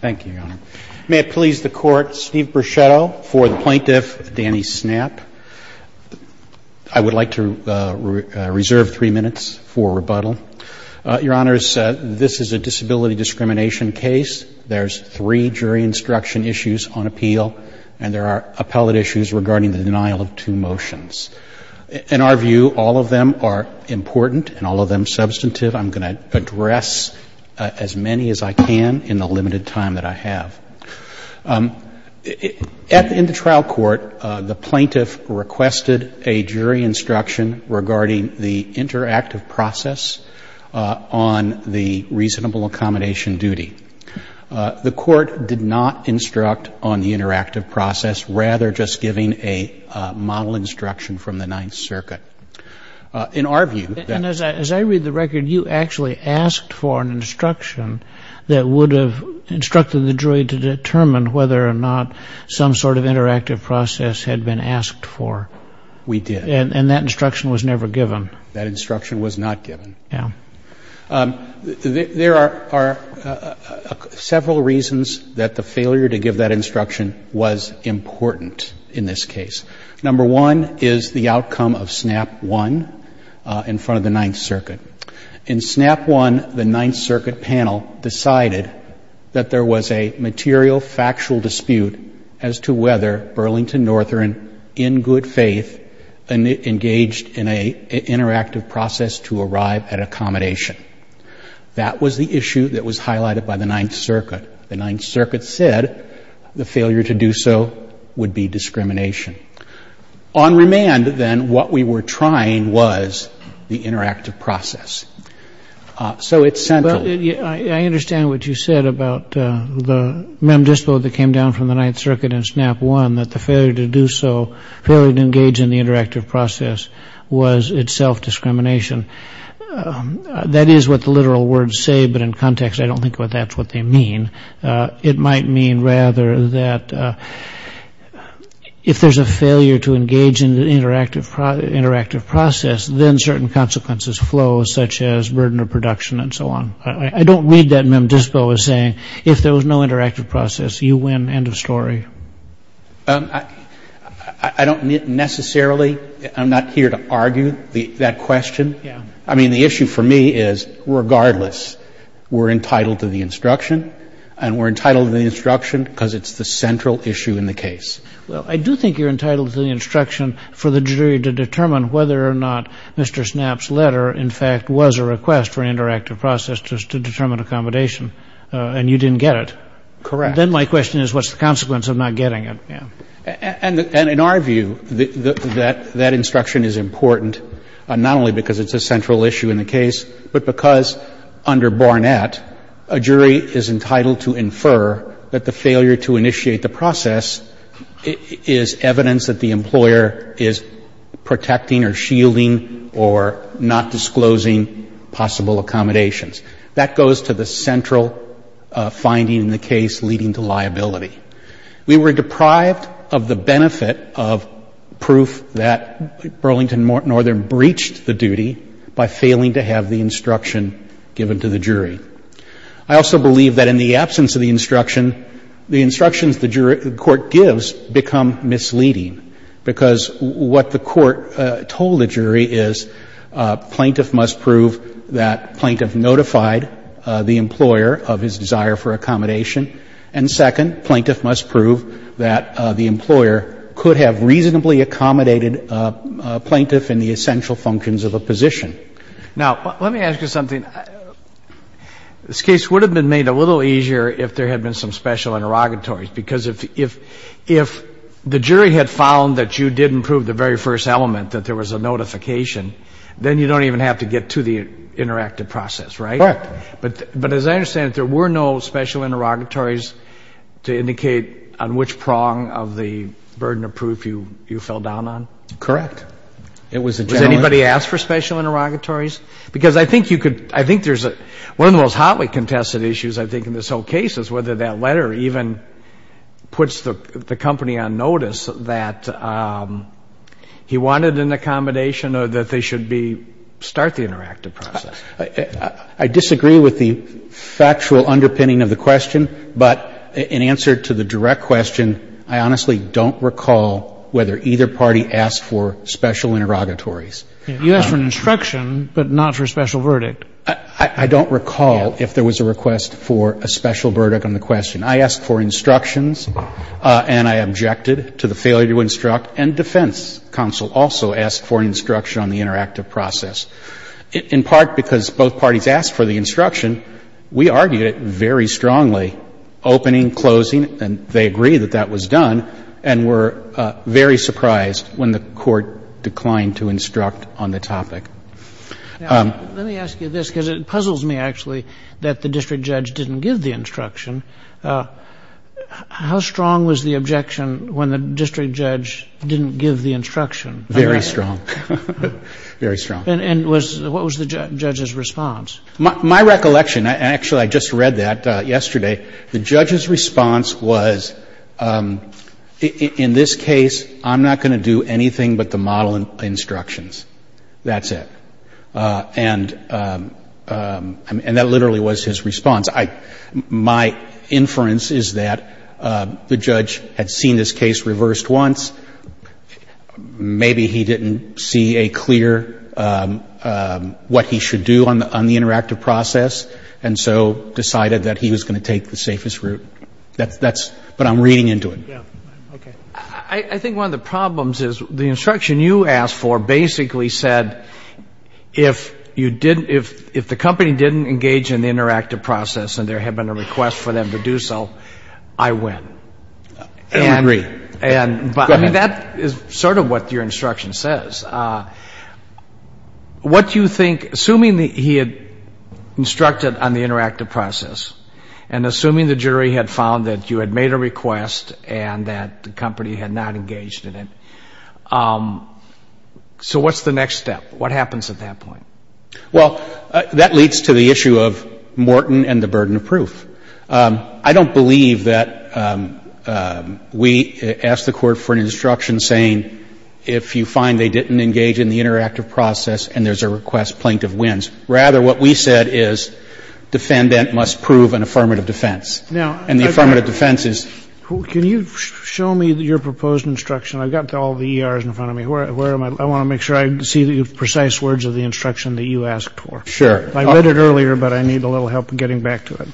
Thank you, Your Honor. May it please the Court, Steve Bruchetto for the plaintiff, Danny Snapp. I would like to reserve three minutes for rebuttal. Your Honor, this is a disability discrimination case. There's three jury instruction issues on appeal, and there are appellate issues regarding the denial of two motions. In our view, all of them are important and all of them substantive. I'm going to address as many as I can in the limited time that I have. In the trial court, the plaintiff requested a jury instruction regarding the interactive process on the reasonable accommodation duty. The court did not instruct on the interactive process, rather just giving a model instruction from the Ninth Circuit. In our view... And as I read the record, you actually asked for an instruction that would have instructed the jury to determine whether or not some sort of interactive process had been asked for. We did. And that instruction was never given. That instruction was not given. Yeah. There are several reasons that the failure to give that instruction was important in this case. Number one is the outcome of SNAP 1 in front of the Ninth Circuit. In SNAP 1, the Ninth Circuit panel decided that there was a material factual dispute as to whether Burlington Northern, in good faith, engaged in an interactive process to arrive at accommodation. That was the issue that was highlighted by the Ninth Circuit. The Ninth Circuit said the failure to do so would be discrimination. On remand, then, what we were trying was the interactive process. So it's central. I understand what you said about the mem dispo that came down from the Ninth Circuit in SNAP 1, that the failure to do so, failure to engage in the interactive process, was itself discrimination. That is what the literal words say, but in context, I don't think that's what they mean. It might mean, rather, that if there's a failure to engage in the interactive process, then certain consequences flow, such as burden of production and so on. I don't read that mem dispo as saying, if there was no interactive process, you win. End of story. I don't necessarily, I'm not here to argue that question. I mean, the issue for me is, regardless, we're entitled to the instruction, and we're entitled to the instruction because it's the central issue in the case. Well, I do think you're entitled to the instruction for the jury to determine whether or not Mr. SNAP's letter, in fact, was a request for an interactive process just to determine accommodation, and you didn't get it. Correct. Then my question is, what's the consequence of not getting it? And in our view, that instruction is important, not only because it's a central issue in the case, but because under Barnett, a jury is entitled to infer that the failure to initiate the process is evidence that the employer is protecting or shielding or not disclosing possible accommodations. That goes to the central finding in the case leading to liability. We were deprived of the benefit of proof that Burlington Northern breached the duty by failing to have the instruction given to the jury. I also believe that in the absence of the instruction, the instructions the jury, the Court gives become misleading, because what the Court told the jury is plaintiff must prove that plaintiff notified the employer of his desire for accommodation. And second, plaintiff must prove that the employer could have reasonably accommodated plaintiff in the essential functions of a position. Now, let me ask you something. This case would have been made a little easier if there had been some special interrogatories, because if the jury had found that you didn't prove the very first element, that there was a notification, then you don't even have to get to the interactive process, right? Correct. But as I understand it, there were no special interrogatories to indicate on which prong of the burden of proof you fell down on? Correct. It was a challenge. Was anybody asked for special interrogatories? Because I think there's one of the most hotly contested issues, I think, in this whole case, is whether that letter even puts the company on notice that he wanted an accommodation or that they should start the interactive process. I disagree with the factual underpinning of the question, but in answer to the direct question, I honestly don't recall whether either party asked for special interrogatories. You asked for an instruction, but not for a special verdict. I don't recall if there was a request for a special verdict on the question. I asked for instructions, and I objected to the failure to instruct, and defense counsel also asked for instruction on the interactive process, in part because both parties asked for the instruction. We argued it very strongly, opening, closing, and they agreed that that was done, and were very surprised when the Court declined to instruct on the topic. Let me ask you this, because it puzzles me, actually, that the district judge didn't give the instruction. How strong was the objection when the district judge didn't give the instruction? Very strong. Very strong. And what was the judge's response? My recollection, and actually I just read that yesterday, the judge's response was, in this case, I'm not going to do anything but the model instructions. That's it. And that literally was his response. My inference is that the judge had seen this case reversed once. Maybe he didn't see a clear what he should do on the interactive process, and so decided that he was going to take the safest route. But I'm reading into it. I think one of the problems is the instruction you asked for basically said, if the company didn't engage in the interactive process and there had been a request for them to do so, I win. I agree. That is sort of what your instruction says. What do you think, assuming he had instructed on the interactive process and assuming the jury had found that you had made a request and that the company had not engaged in it, so what's the next step? What happens at that point? Well, that leads to the issue of Morton and the burden of proof. I don't believe that we ask the court for an instruction saying, if you find they didn't engage in the interactive process and there's a request, Plaintiff wins. Rather, what we said is defendant must prove an affirmative defense. And the affirmative defense is can you show me your proposed instruction? I've got all the ERs in front of me. Where am I? I want to make sure I see the precise words of the instruction that you asked for. Sure. I read it earlier, but I need a little help getting back to it.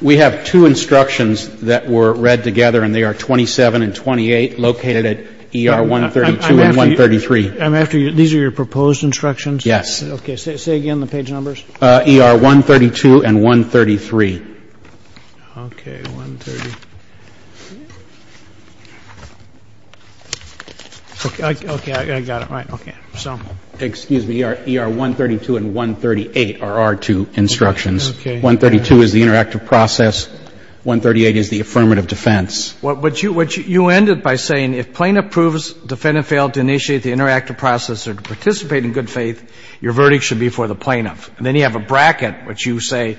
We have two instructions that were read together, and they are 27 and 28, located at ER 132 and 133. I'm after you. These are your proposed instructions? Yes. Okay. Say again the page numbers. ER 132 and 133. Okay. 130. Okay. I got it right. Okay. So. Excuse me. ER 132 and 138 are our two instructions. Okay. 132 is the interactive process. 138 is the affirmative defense. But you ended by saying if Plaintiff proves defendant failed to initiate the interactive process or to participate in good faith, your verdict should be for the Plaintiff. And then you have a bracket, which you say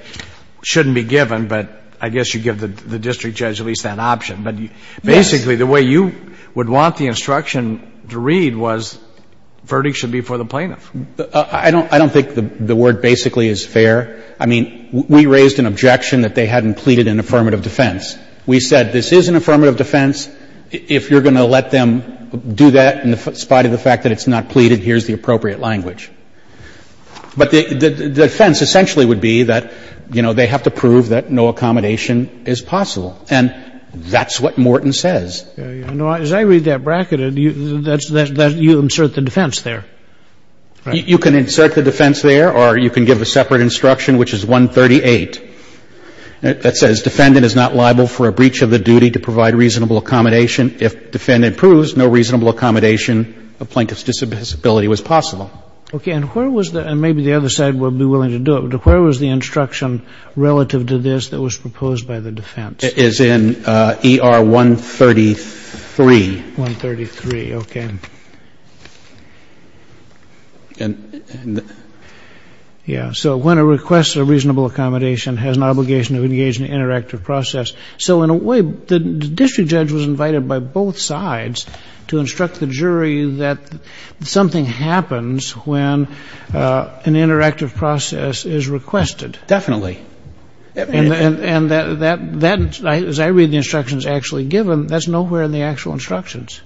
shouldn't be given, but I guess you give the district judge at least that option. Yes. But basically the way you would want the instruction to read was verdict should be for the Plaintiff. I don't think the word basically is fair. I mean, we raised an objection that they hadn't pleaded an affirmative defense. We said this is an affirmative defense. If you're going to let them do that in spite of the fact that it's not pleaded, here's the appropriate language. But the defense essentially would be that, you know, they have to prove that no accommodation is possible. And that's what Morton says. As I read that bracket, you insert the defense there. You can insert the defense there or you can give a separate instruction, which is 138, that says defendant is not liable for a breach of the duty to provide reasonable accommodation. If defendant proves no reasonable accommodation of Plaintiff's disability was possible. Okay. And where was the other side would be willing to do it? Where was the instruction relative to this that was proposed by the defense? It is in ER 133. 133. Okay. And? Yeah, so when a request for reasonable accommodation has an obligation to engage in an interactive process. So in a way, the district judge was invited by both sides to instruct the jury that something happens when an interactive process is requested. Definitely. And that, as I read the instructions actually given, that's nowhere in the actual instructions.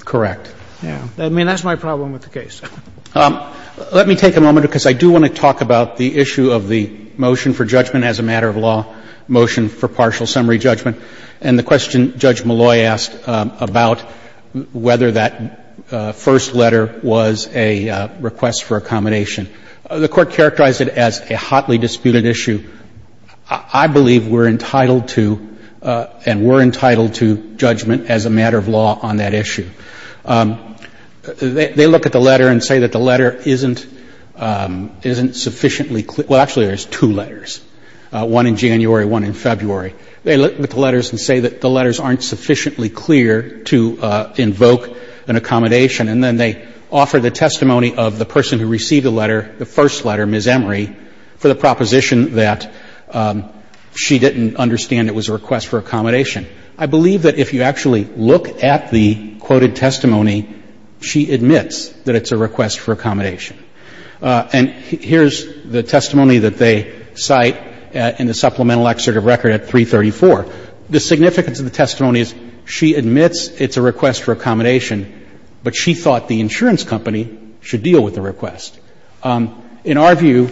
Correct. Yeah. I mean, that's my problem with the case. Let me take a moment, because I do want to talk about the issue of the motion for judgment as a matter of law, motion for partial summary judgment, and the question Judge Malloy asked about whether that first letter was a request for accommodation. The Court characterized it as a hotly disputed issue. I believe we're entitled to, and were entitled to, judgment as a matter of law on that issue. They look at the letter and say that the letter isn't sufficiently clear. Well, actually, there's two letters, one in January, one in February. They look at the letters and say that the letters aren't sufficiently clear to invoke an accommodation. And then they offer the testimony of the person who received the letter, the first that she didn't understand it was a request for accommodation. I believe that if you actually look at the quoted testimony, she admits that it's a request for accommodation. And here's the testimony that they cite in the supplemental excerpt of record at 334. The significance of the testimony is she admits it's a request for accommodation, In our view,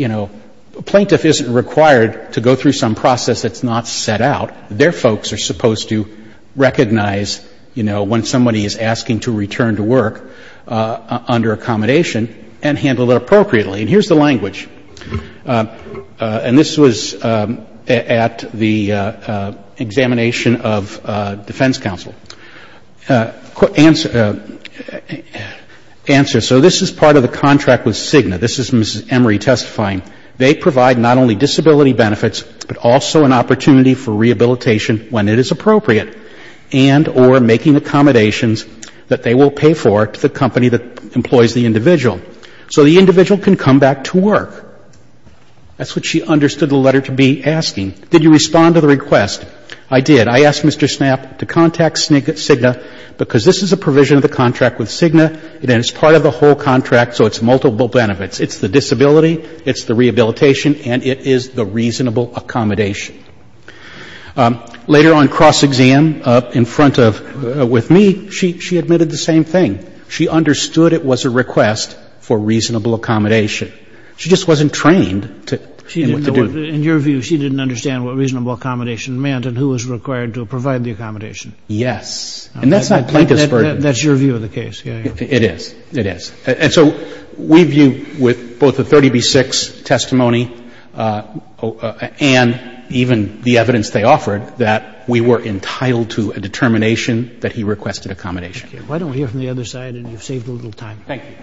you know, a plaintiff isn't required to go through some process that's not set out. Their folks are supposed to recognize, you know, when somebody is asking to return to work under accommodation and handle it appropriately. And here's the language. And this was at the examination of defense counsel. Answer. So this is part of the contract with Cigna. This is Mrs. Emery testifying. They provide not only disability benefits, but also an opportunity for rehabilitation when it is appropriate and or making accommodations that they will pay for to the company that employs the individual. So the individual can come back to work. That's what she understood the letter to be asking. Did you respond to the request? I did. I asked Mr. Snap to contact Cigna because this is a provision of the contract with Cigna, and it's part of the whole contract, so it's multiple benefits. It's the disability. It's the rehabilitation. And it is the reasonable accommodation. Later on, cross-exam in front of me, she admitted the same thing. She understood it was a request for reasonable accommodation. She just wasn't trained in what to do. In your view, she didn't understand what reasonable accommodation meant and who was required to provide the accommodation. Yes. And that's not plaintiff's burden. That's your view of the case. It is. It is. And so we view with both the 30b-6 testimony and even the evidence they offered that we were entitled to a determination that he requested accommodation. Why don't we hear from the other side, and you've saved a little time. Thank you.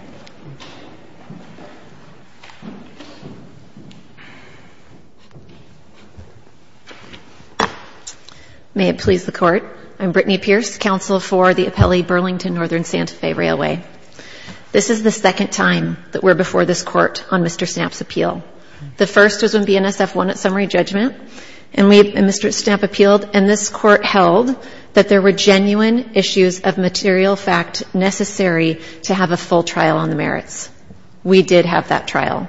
May it please the Court. I'm Brittany Pierce, Counsel for the Appellee Burlington-Northern Santa Fe Railway. This is the second time that we're before this Court on Mr. Snap's appeal. The first was when BNSF won its summary judgment, and Mr. Snap appealed, and this Court held that there were genuine issues of material fact necessary to have a full trial. We did have that trial.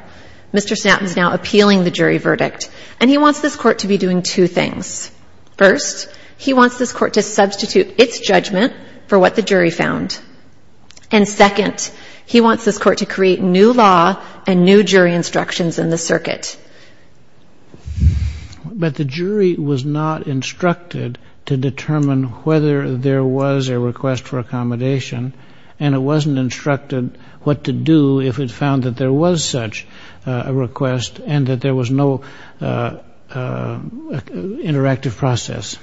Mr. Snap is now appealing the jury verdict, and he wants this Court to be doing two things. First, he wants this Court to substitute its judgment for what the jury found. And second, he wants this Court to create new law and new jury instructions in the circuit. But the jury was not instructed to determine whether there was a request for accommodation, and it wasn't instructed what to do if it found that there was such a request and that there was no interactive process.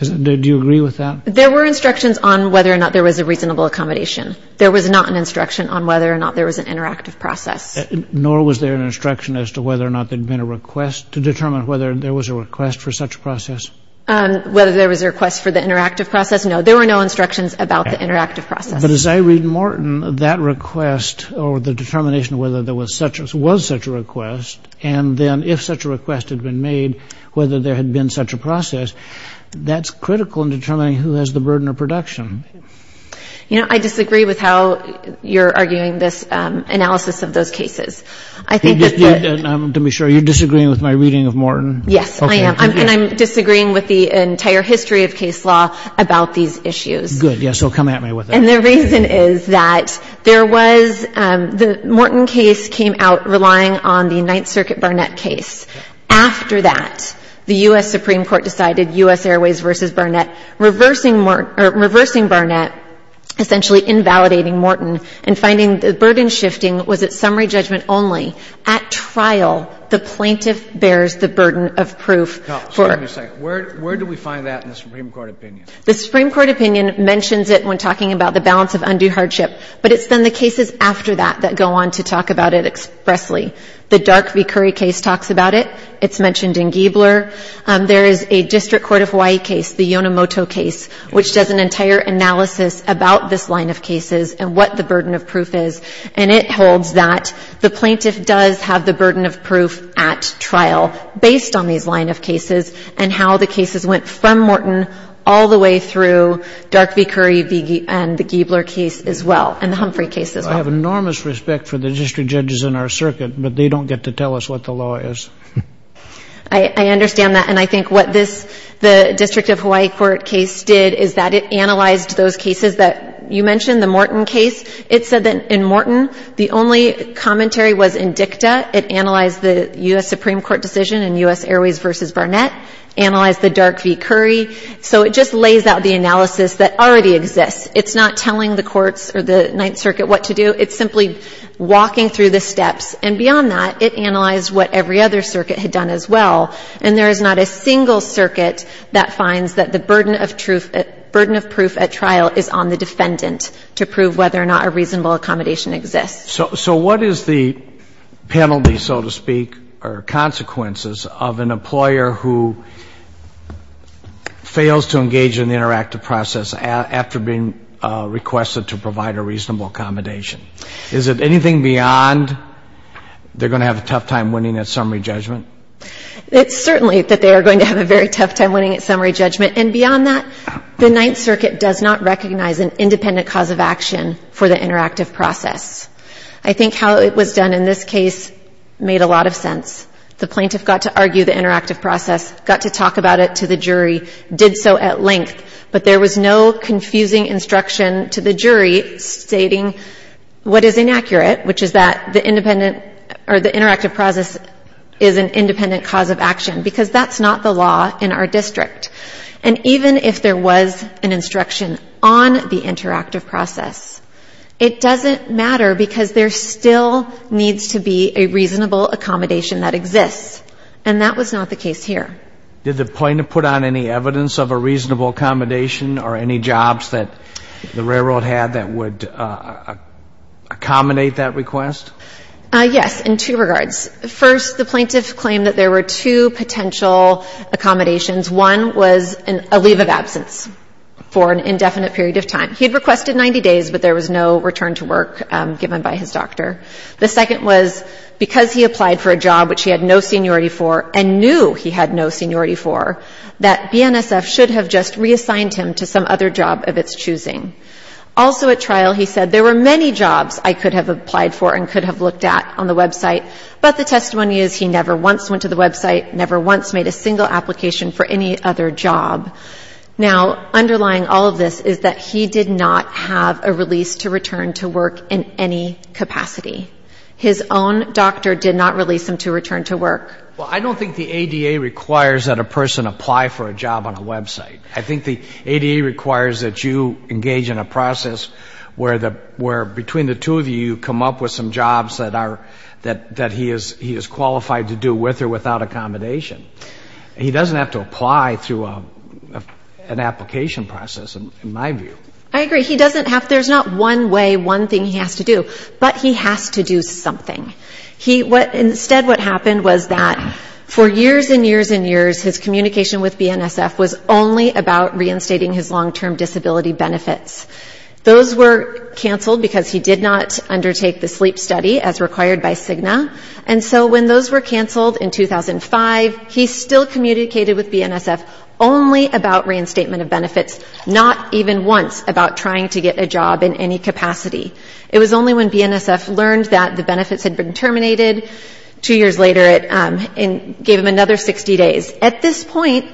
Do you agree with that? There were instructions on whether or not there was a reasonable accommodation. There was not an instruction on whether or not there was an interactive process. Nor was there an instruction as to whether or not there had been a request to determine whether there was a request for such a process? Whether there was a request for the interactive process, no. There were no instructions about the interactive process. But as I read Morton, that request or the determination of whether there was such a request and then if such a request had been made, whether there had been such a process, that's critical in determining who has the burden of production. You know, I disagree with how you're arguing this analysis of those cases. I think that the ---- To be sure, you're disagreeing with my reading of Morton? Yes, I am. And I'm disagreeing with the entire history of case law about these issues. Good. Yes, so come at me with that. And the reason is that there was the Morton case came out relying on the Ninth Circuit Barnett case. After that, the U.S. Supreme Court decided U.S. Airways v. Barnett, reversing Barnett, essentially invalidating Morton and finding the burden shifting was at summary judgment only. At trial, the plaintiff bears the burden of proof for ---- Now, wait a second. Where do we find that in the Supreme Court opinion? The Supreme Court opinion mentions it when talking about the balance of undue hardship. But it's then the cases after that that go on to talk about it expressly. The Dark v. Curry case talks about it. It's mentioned in Giebler. There is a District Court of Hawaii case, the Yonemoto case, which does an entire analysis about this line of cases and what the burden of proof is. And it holds that the plaintiff does have the burden of proof at trial based on these line of cases and how the cases went from Morton all the way through Dark v. Curry and the Giebler case as well, and the Humphrey case as well. I have enormous respect for the district judges in our circuit, but they don't get to tell us what the law is. I understand that. And I think what this District of Hawaii Court case did is that it analyzed those cases that you mentioned, the Morton case. It said that in Morton, the only commentary was in dicta. It analyzed the U.S. Supreme Court decision in U.S. Airways v. Barnett, analyzed the Dark v. Curry. So it just lays out the analysis that already exists. It's not telling the courts or the Ninth Circuit what to do. It's simply walking through the steps. And beyond that, it analyzed what every other circuit had done as well. And there is not a single circuit that finds that the burden of proof at trial is on the defendant to prove whether or not a reasonable accommodation exists. So what is the penalty, so to speak, or consequences of an employer who fails to engage in the interactive process after being requested to provide a reasonable accommodation? Is it anything beyond they're going to have a tough time winning that summary judgment? It's certainly that they are going to have a very tough time winning its summary judgment. And beyond that, the Ninth Circuit does not recognize an independent cause of action for the interactive process. I think how it was done in this case made a lot of sense. The plaintiff got to argue the interactive process, got to talk about it to the jury, did so at length. But there was no confusing instruction to the jury stating what is inaccurate, which is that the interactive process is an independent cause of action, because that's not the law in our district. And even if there was an instruction on the interactive process, it doesn't matter because there still needs to be a reasonable accommodation that exists. And that was not the case here. Did the plaintiff put on any evidence of a reasonable accommodation or any jobs that the railroad had that would accommodate that request? Yes, in two regards. First, the plaintiff claimed that there were two potential accommodations. One was a leave of absence for an indefinite period of time. He had requested 90 days, but there was no return to work given by his doctor. The second was because he applied for a job which he had no seniority for and knew he had no seniority for, that BNSF should have just reassigned him to some other job of its choosing. Also at trial, he said, there were many jobs I could have applied for and could have looked at on the website, but the testimony is he never once went to the website, never once made a single application for any other job. Now, underlying all of this is that he did not have a release to return to work in any capacity. His own doctor did not release him to return to work. Well, I don't think the ADA requires that a person apply for a job on a website. I think the ADA requires that you engage in a process where between the two of you, you come up with some jobs that he is qualified to do with or without accommodation. He doesn't have to apply through an application process, in my view. I agree. He doesn't have to. There's not one way, one thing he has to do. But he has to do something. Instead, what happened was that for years and years and years, his communication with BNSF was only about reinstating his long-term disability benefits. Those were canceled because he did not undertake the sleep study as required by CIGNA. And so when those were canceled in 2005, he still communicated with BNSF only about reinstatement of benefits, not even once about trying to get a job in any capacity. It was only when BNSF learned that the benefits had been terminated two years later, it gave him another 60 days. At this point,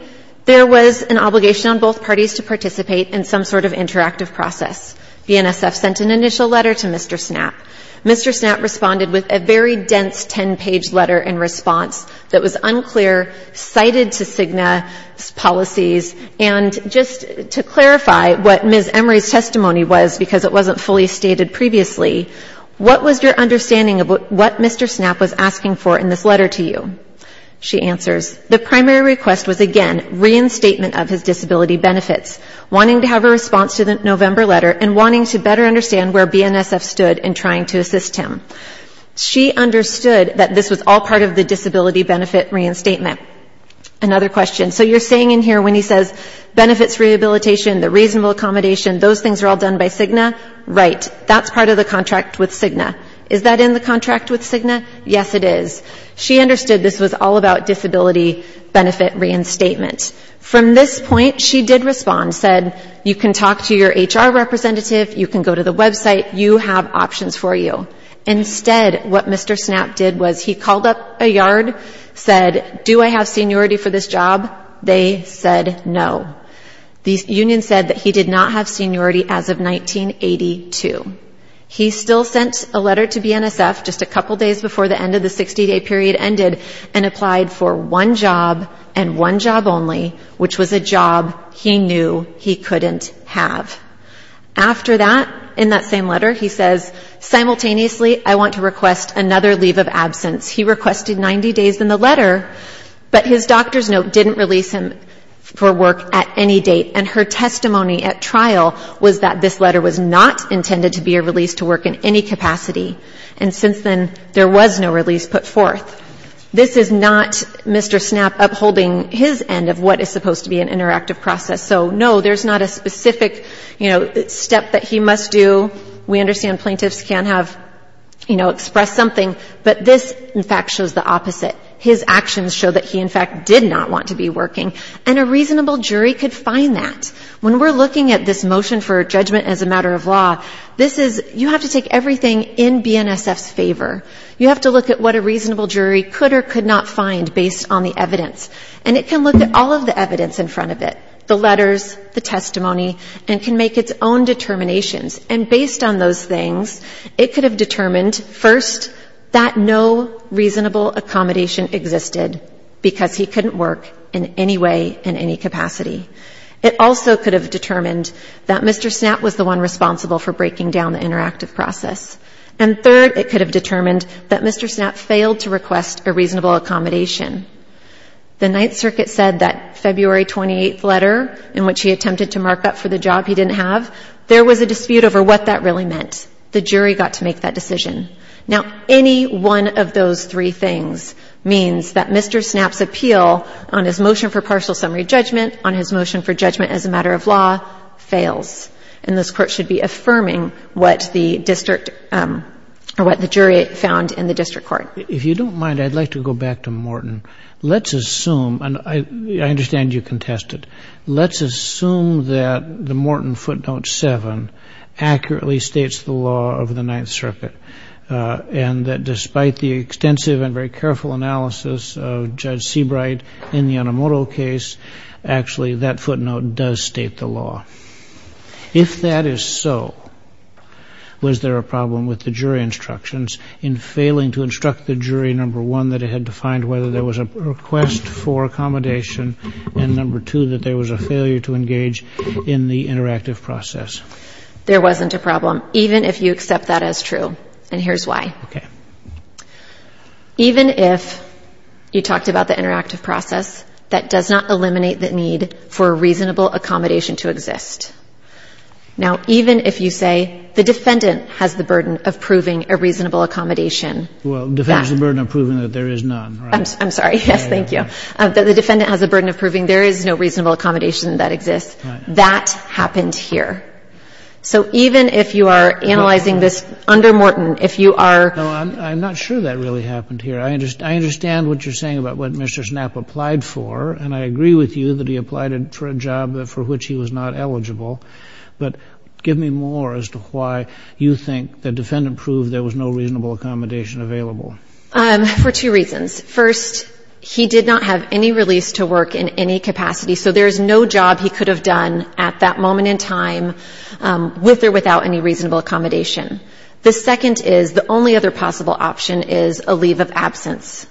there was an obligation on both parties to participate in some sort of interactive process. BNSF sent an initial letter to Mr. Snap. Mr. Snap responded with a very dense 10-page letter in response that was unclear, cited to CIGNA's policies, and just to clarify what Ms. Emery's testimony was, because it wasn't fully stated previously, what was your understanding of what Mr. Snap was asking for in this letter to you? She answers, the primary request was, again, reinstatement of his disability benefits, wanting to have a response to the November letter, and wanting to better understand where BNSF stood in trying to assist him. She understood that this was all part of the disability benefit reinstatement. Another question, so you're saying in here when he says benefits rehabilitation, the reasonable accommodation, those things are all done by CIGNA? Right, that's part of the contract with CIGNA. Is that in the contract with CIGNA? Yes, it is. She understood this was all about disability benefit reinstatement. From this point, she did respond, said, you can talk to your HR representative, you can go to the website, you have options for you. Instead, what Mr. Snap did was he called up a yard, said, do I have seniority for this job? They said no. The union said that he did not have seniority as of 1982. He still sent a letter to BNSF just a couple days before the end of the 60-day period ended and applied for one job and one job only, which was a job he knew he couldn't have. After that, in that same letter, he says, simultaneously, I want to request another leave of absence. He requested 90 days in the letter, but his doctor's note didn't release him for work at any date. And her testimony at trial was that this letter was not intended to be a release to work in any capacity. And since then, there was no release put forth. This is not Mr. Snap upholding his end of what is supposed to be an interactive process. So, no, there's not a specific, you know, step that he must do. We understand plaintiffs can have, you know, expressed something, but this, in fact, shows the opposite. His actions show that he, in fact, did not want to be working. And a reasonable jury could find that. When we're looking at this motion for judgment as a matter of law, this is, you have to take everything in BNSF's favor. You have to look at what a reasonable jury could or could not find based on the evidence. And it can look at all of the evidence in front of it, the letters, the testimony, and can make its own determinations. And based on those things, it could have determined, first, that no reasonable accommodation existed, because he couldn't work in any way in any capacity. It also could have determined that Mr. Snap was the one responsible for breaking down the interactive process. And third, it could have determined that Mr. Snap failed to request a reasonable accommodation. The Ninth Circuit said that February 28th letter, in which he attempted to mark up for the job he didn't have, there was a dispute over what that really meant. The jury got to make that decision. Now, any one of those three things means that Mr. Snap's appeal on his motion for partial summary judgment, on his motion for judgment as a matter of law, fails. And this Court should be affirming what the district or what the jury found in the district court. If you don't mind, I'd like to go back to Morton. Let's assume, and I understand you contest it, let's assume that the Morton footnote 7 accurately states the law of the Ninth Circuit, and that despite the extensive and very careful analysis of Judge Seabright in the Onomoto case, actually that footnote does state the law. If that is so, was there a problem with the jury instructions in failing to instruct the jury, number one, that it had to find whether there was a request for accommodation, and number two, that there was a failure to engage in the interactive process? There wasn't a problem, even if you accept that as true, and here's why. Okay. Even if you talked about the interactive process, that does not eliminate the need for a reasonable accommodation to exist. Now, even if you say the defendant has the burden of proving a reasonable accommodation. Well, the defendant has the burden of proving that there is none, right? I'm sorry. Yes, thank you. The defendant has the burden of proving there is no reasonable accommodation that exists. That happened here. So even if you are analyzing this under Morton, if you are... No, I'm not sure that really happened here. I understand what you're saying about what Mr. Snapp applied for, and I agree with you that he applied for a job for which he was not eligible, but give me more as to why you think the defendant proved there was no reasonable accommodation available. For two reasons. First, he did not have any release to work in any capacity, so there is no job he could have done at that moment in time with or without any reasonable accommodation. The second is, the only other possible option is a leave of absence.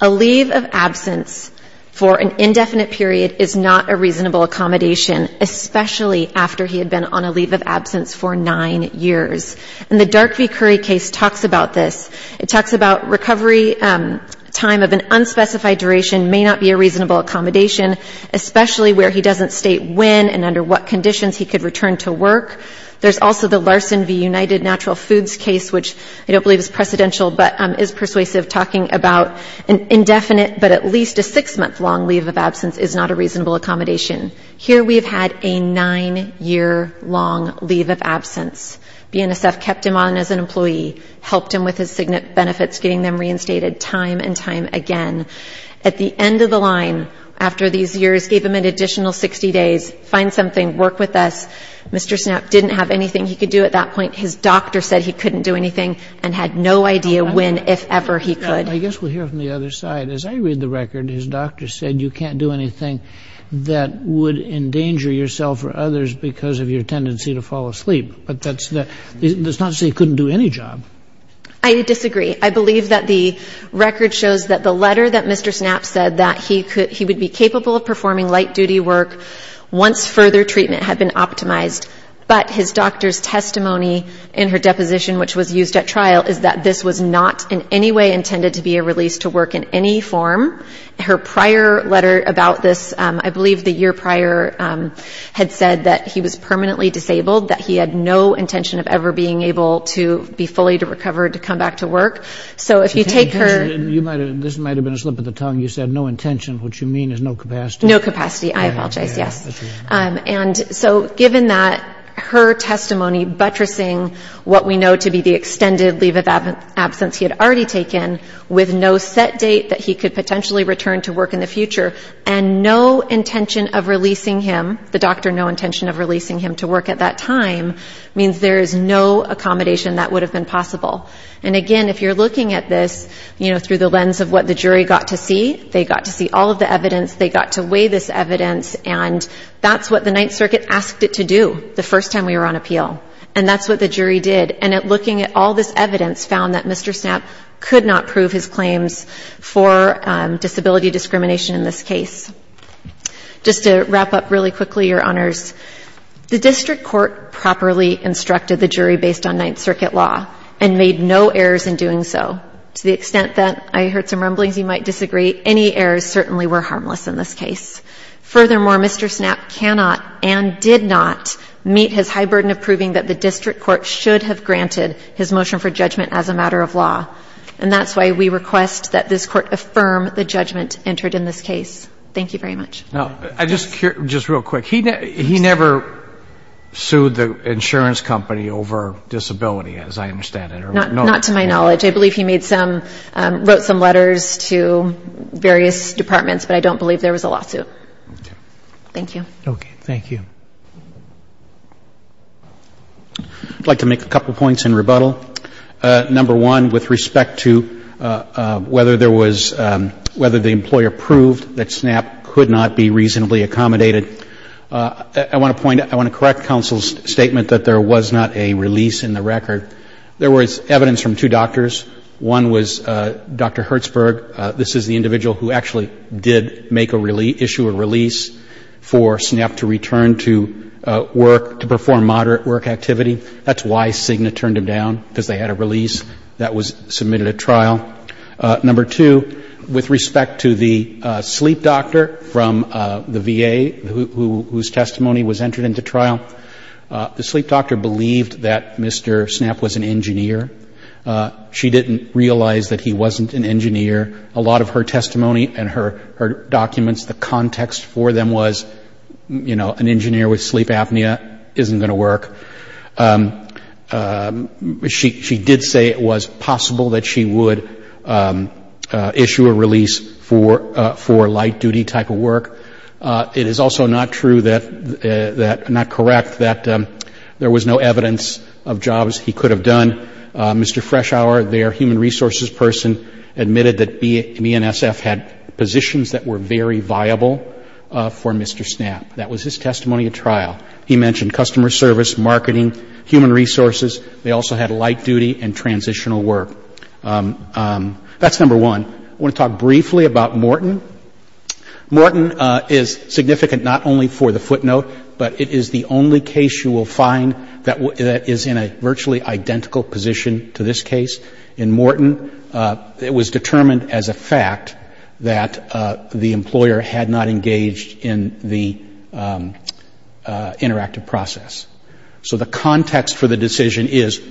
A leave of absence for an indefinite period is not a reasonable accommodation, especially after he had been on a leave of absence for nine years. And the Dark v. Curry case talks about this. It talks about recovery time of an unspecified duration may not be a reasonable accommodation, especially where he doesn't state when and under what conditions he could return to work. There's also the Larson v. United Natural Foods case, which I don't believe is precedential but is persuasive, talking about an indefinite but at least a six-month-long leave of absence is not a reasonable accommodation. Here we have had a nine-year-long leave of absence. BNSF kept him on as an employee, helped him with his benefits, getting them reinstated time and time again. At the end of the line, after these years, gave him an additional 60 days, find something, work with us. Mr. Snapp didn't have anything he could do at that point. His doctor said he couldn't do anything and had no idea when, if ever, he could. I guess we'll hear from the other side. As I read the record, his doctor said you can't do anything that would endanger yourself or others because of your tendency to fall asleep. But that's not to say he couldn't do any job. I disagree. I believe that the record shows that the letter that Mr. Snapp said, that he would be capable of performing light-duty work once further treatment had been optimized, but his doctor's testimony in her deposition, which was used at trial, is that this was not in any way intended to be a release to work in any form. Her prior letter about this, I believe the year prior, had said that he was permanently disabled, that he had no intention of ever being able to be fully recovered to come back to work. So if you take her... This might have been a slip of the tongue. You said no intention. What you mean is no capacity. No capacity. I apologize. Yes. And so given that her testimony buttressing what we know to be the extended leave of absence he had already taken with no set date that he could potentially return to work in the future and no intention of releasing him, the doctor no intention of releasing him to work at that time, means there is no accommodation that would have been possible. And, again, if you're looking at this, you know, through the lens of what the jury got to see, they got to see all of the evidence, they got to weigh this evidence, and that's what the Ninth Circuit asked it to do the first time we were on appeal. And that's what the jury did. And looking at all this evidence found that Mr. Snapp could not prove his claims for disability discrimination in this case. Just to wrap up really quickly, Your Honors, the district court properly instructed the jury based on Ninth Circuit law and made no errors in doing so. To the extent that I heard some rumblings you might disagree, any errors certainly were harmless in this case. Furthermore, Mr. Snapp cannot and did not meet his high burden of proving that the district court should have granted his motion for judgment as a matter of law. And that's why we request that this court affirm the judgment entered in this case. Thank you very much. Now, just real quick, he never sued the insurance company over disability, as I understand it? Not to my knowledge. I believe he made some, wrote some letters to various departments, but I don't believe there was a lawsuit. Thank you. Okay, thank you. I'd like to make a couple points in rebuttal. Number one, with respect to whether there was, whether the employer proved that Snapp could not be reasonably accommodated, I want to point out, I want to correct counsel's statement that there was not a release in the record. There was evidence from two doctors. One was Dr. Hertzberg. This is the individual who actually did make a release, issue a release for Snapp to return to work, to perform moderate work activity. That's why Cigna turned him down, because they had a release that was submitted at trial. Number two, with respect to the sleep doctor from the VA whose testimony was entered into trial, the sleep doctor believed that Mr. Snapp was an engineer. She didn't realize that he wasn't an engineer. A lot of her testimony and her documents, the context for them was, you know, an engineer with sleep apnea isn't going to work. She did say it was possible that she would issue a release for light-duty type of work. It is also not true that, not correct, that there was no evidence of jobs he could have done. Mr. Freshour, their human resources person, admitted that BNSF had positions that were very viable for Mr. Snapp. That was his testimony at trial. He mentioned customer service, marketing, human resources. They also had light-duty and transitional work. That's number one. I want to talk briefly about Morton. Morton is significant not only for the footnote, but it is the only case you will find that is in a virtually identical position to this case. In Morton, it was determined as a fact that the employer had not engaged in the interactive process. So the context for the decision is,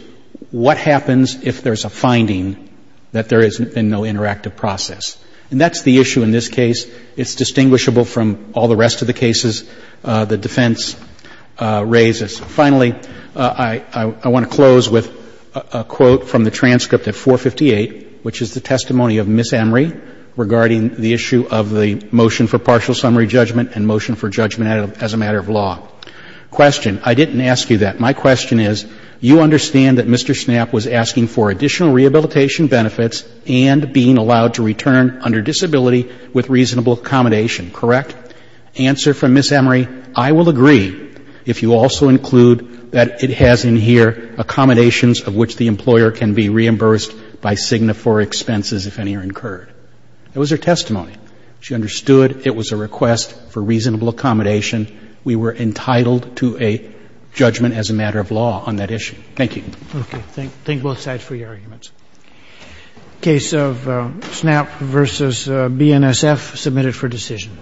what happens if there's a finding that there has been no interactive process? And that's the issue in this case. It's distinguishable from all the rest of the cases the defense raises. Finally, I want to close with a quote from the transcript at 458, which is the testimony of Ms. Emery regarding the issue of the motion for partial summary judgment and motion for judgment as a matter of law. Question. I didn't ask you that. My question is, you understand that Mr. Snapp was asking for additional rehabilitation benefits and being allowed to return under disability with reasonable accommodation, correct? Answer from Ms. Emery, I will agree if you also include that it has in here accommodations of which the employer can be reimbursed by Cigna for expenses if any are incurred. It was her testimony. She understood it was a request for reasonable accommodation. We were entitled to a judgment as a matter of law on that issue. Thank you. Okay. Thank both sides for your arguments. Case of Snapp versus BNSF submitted for decision.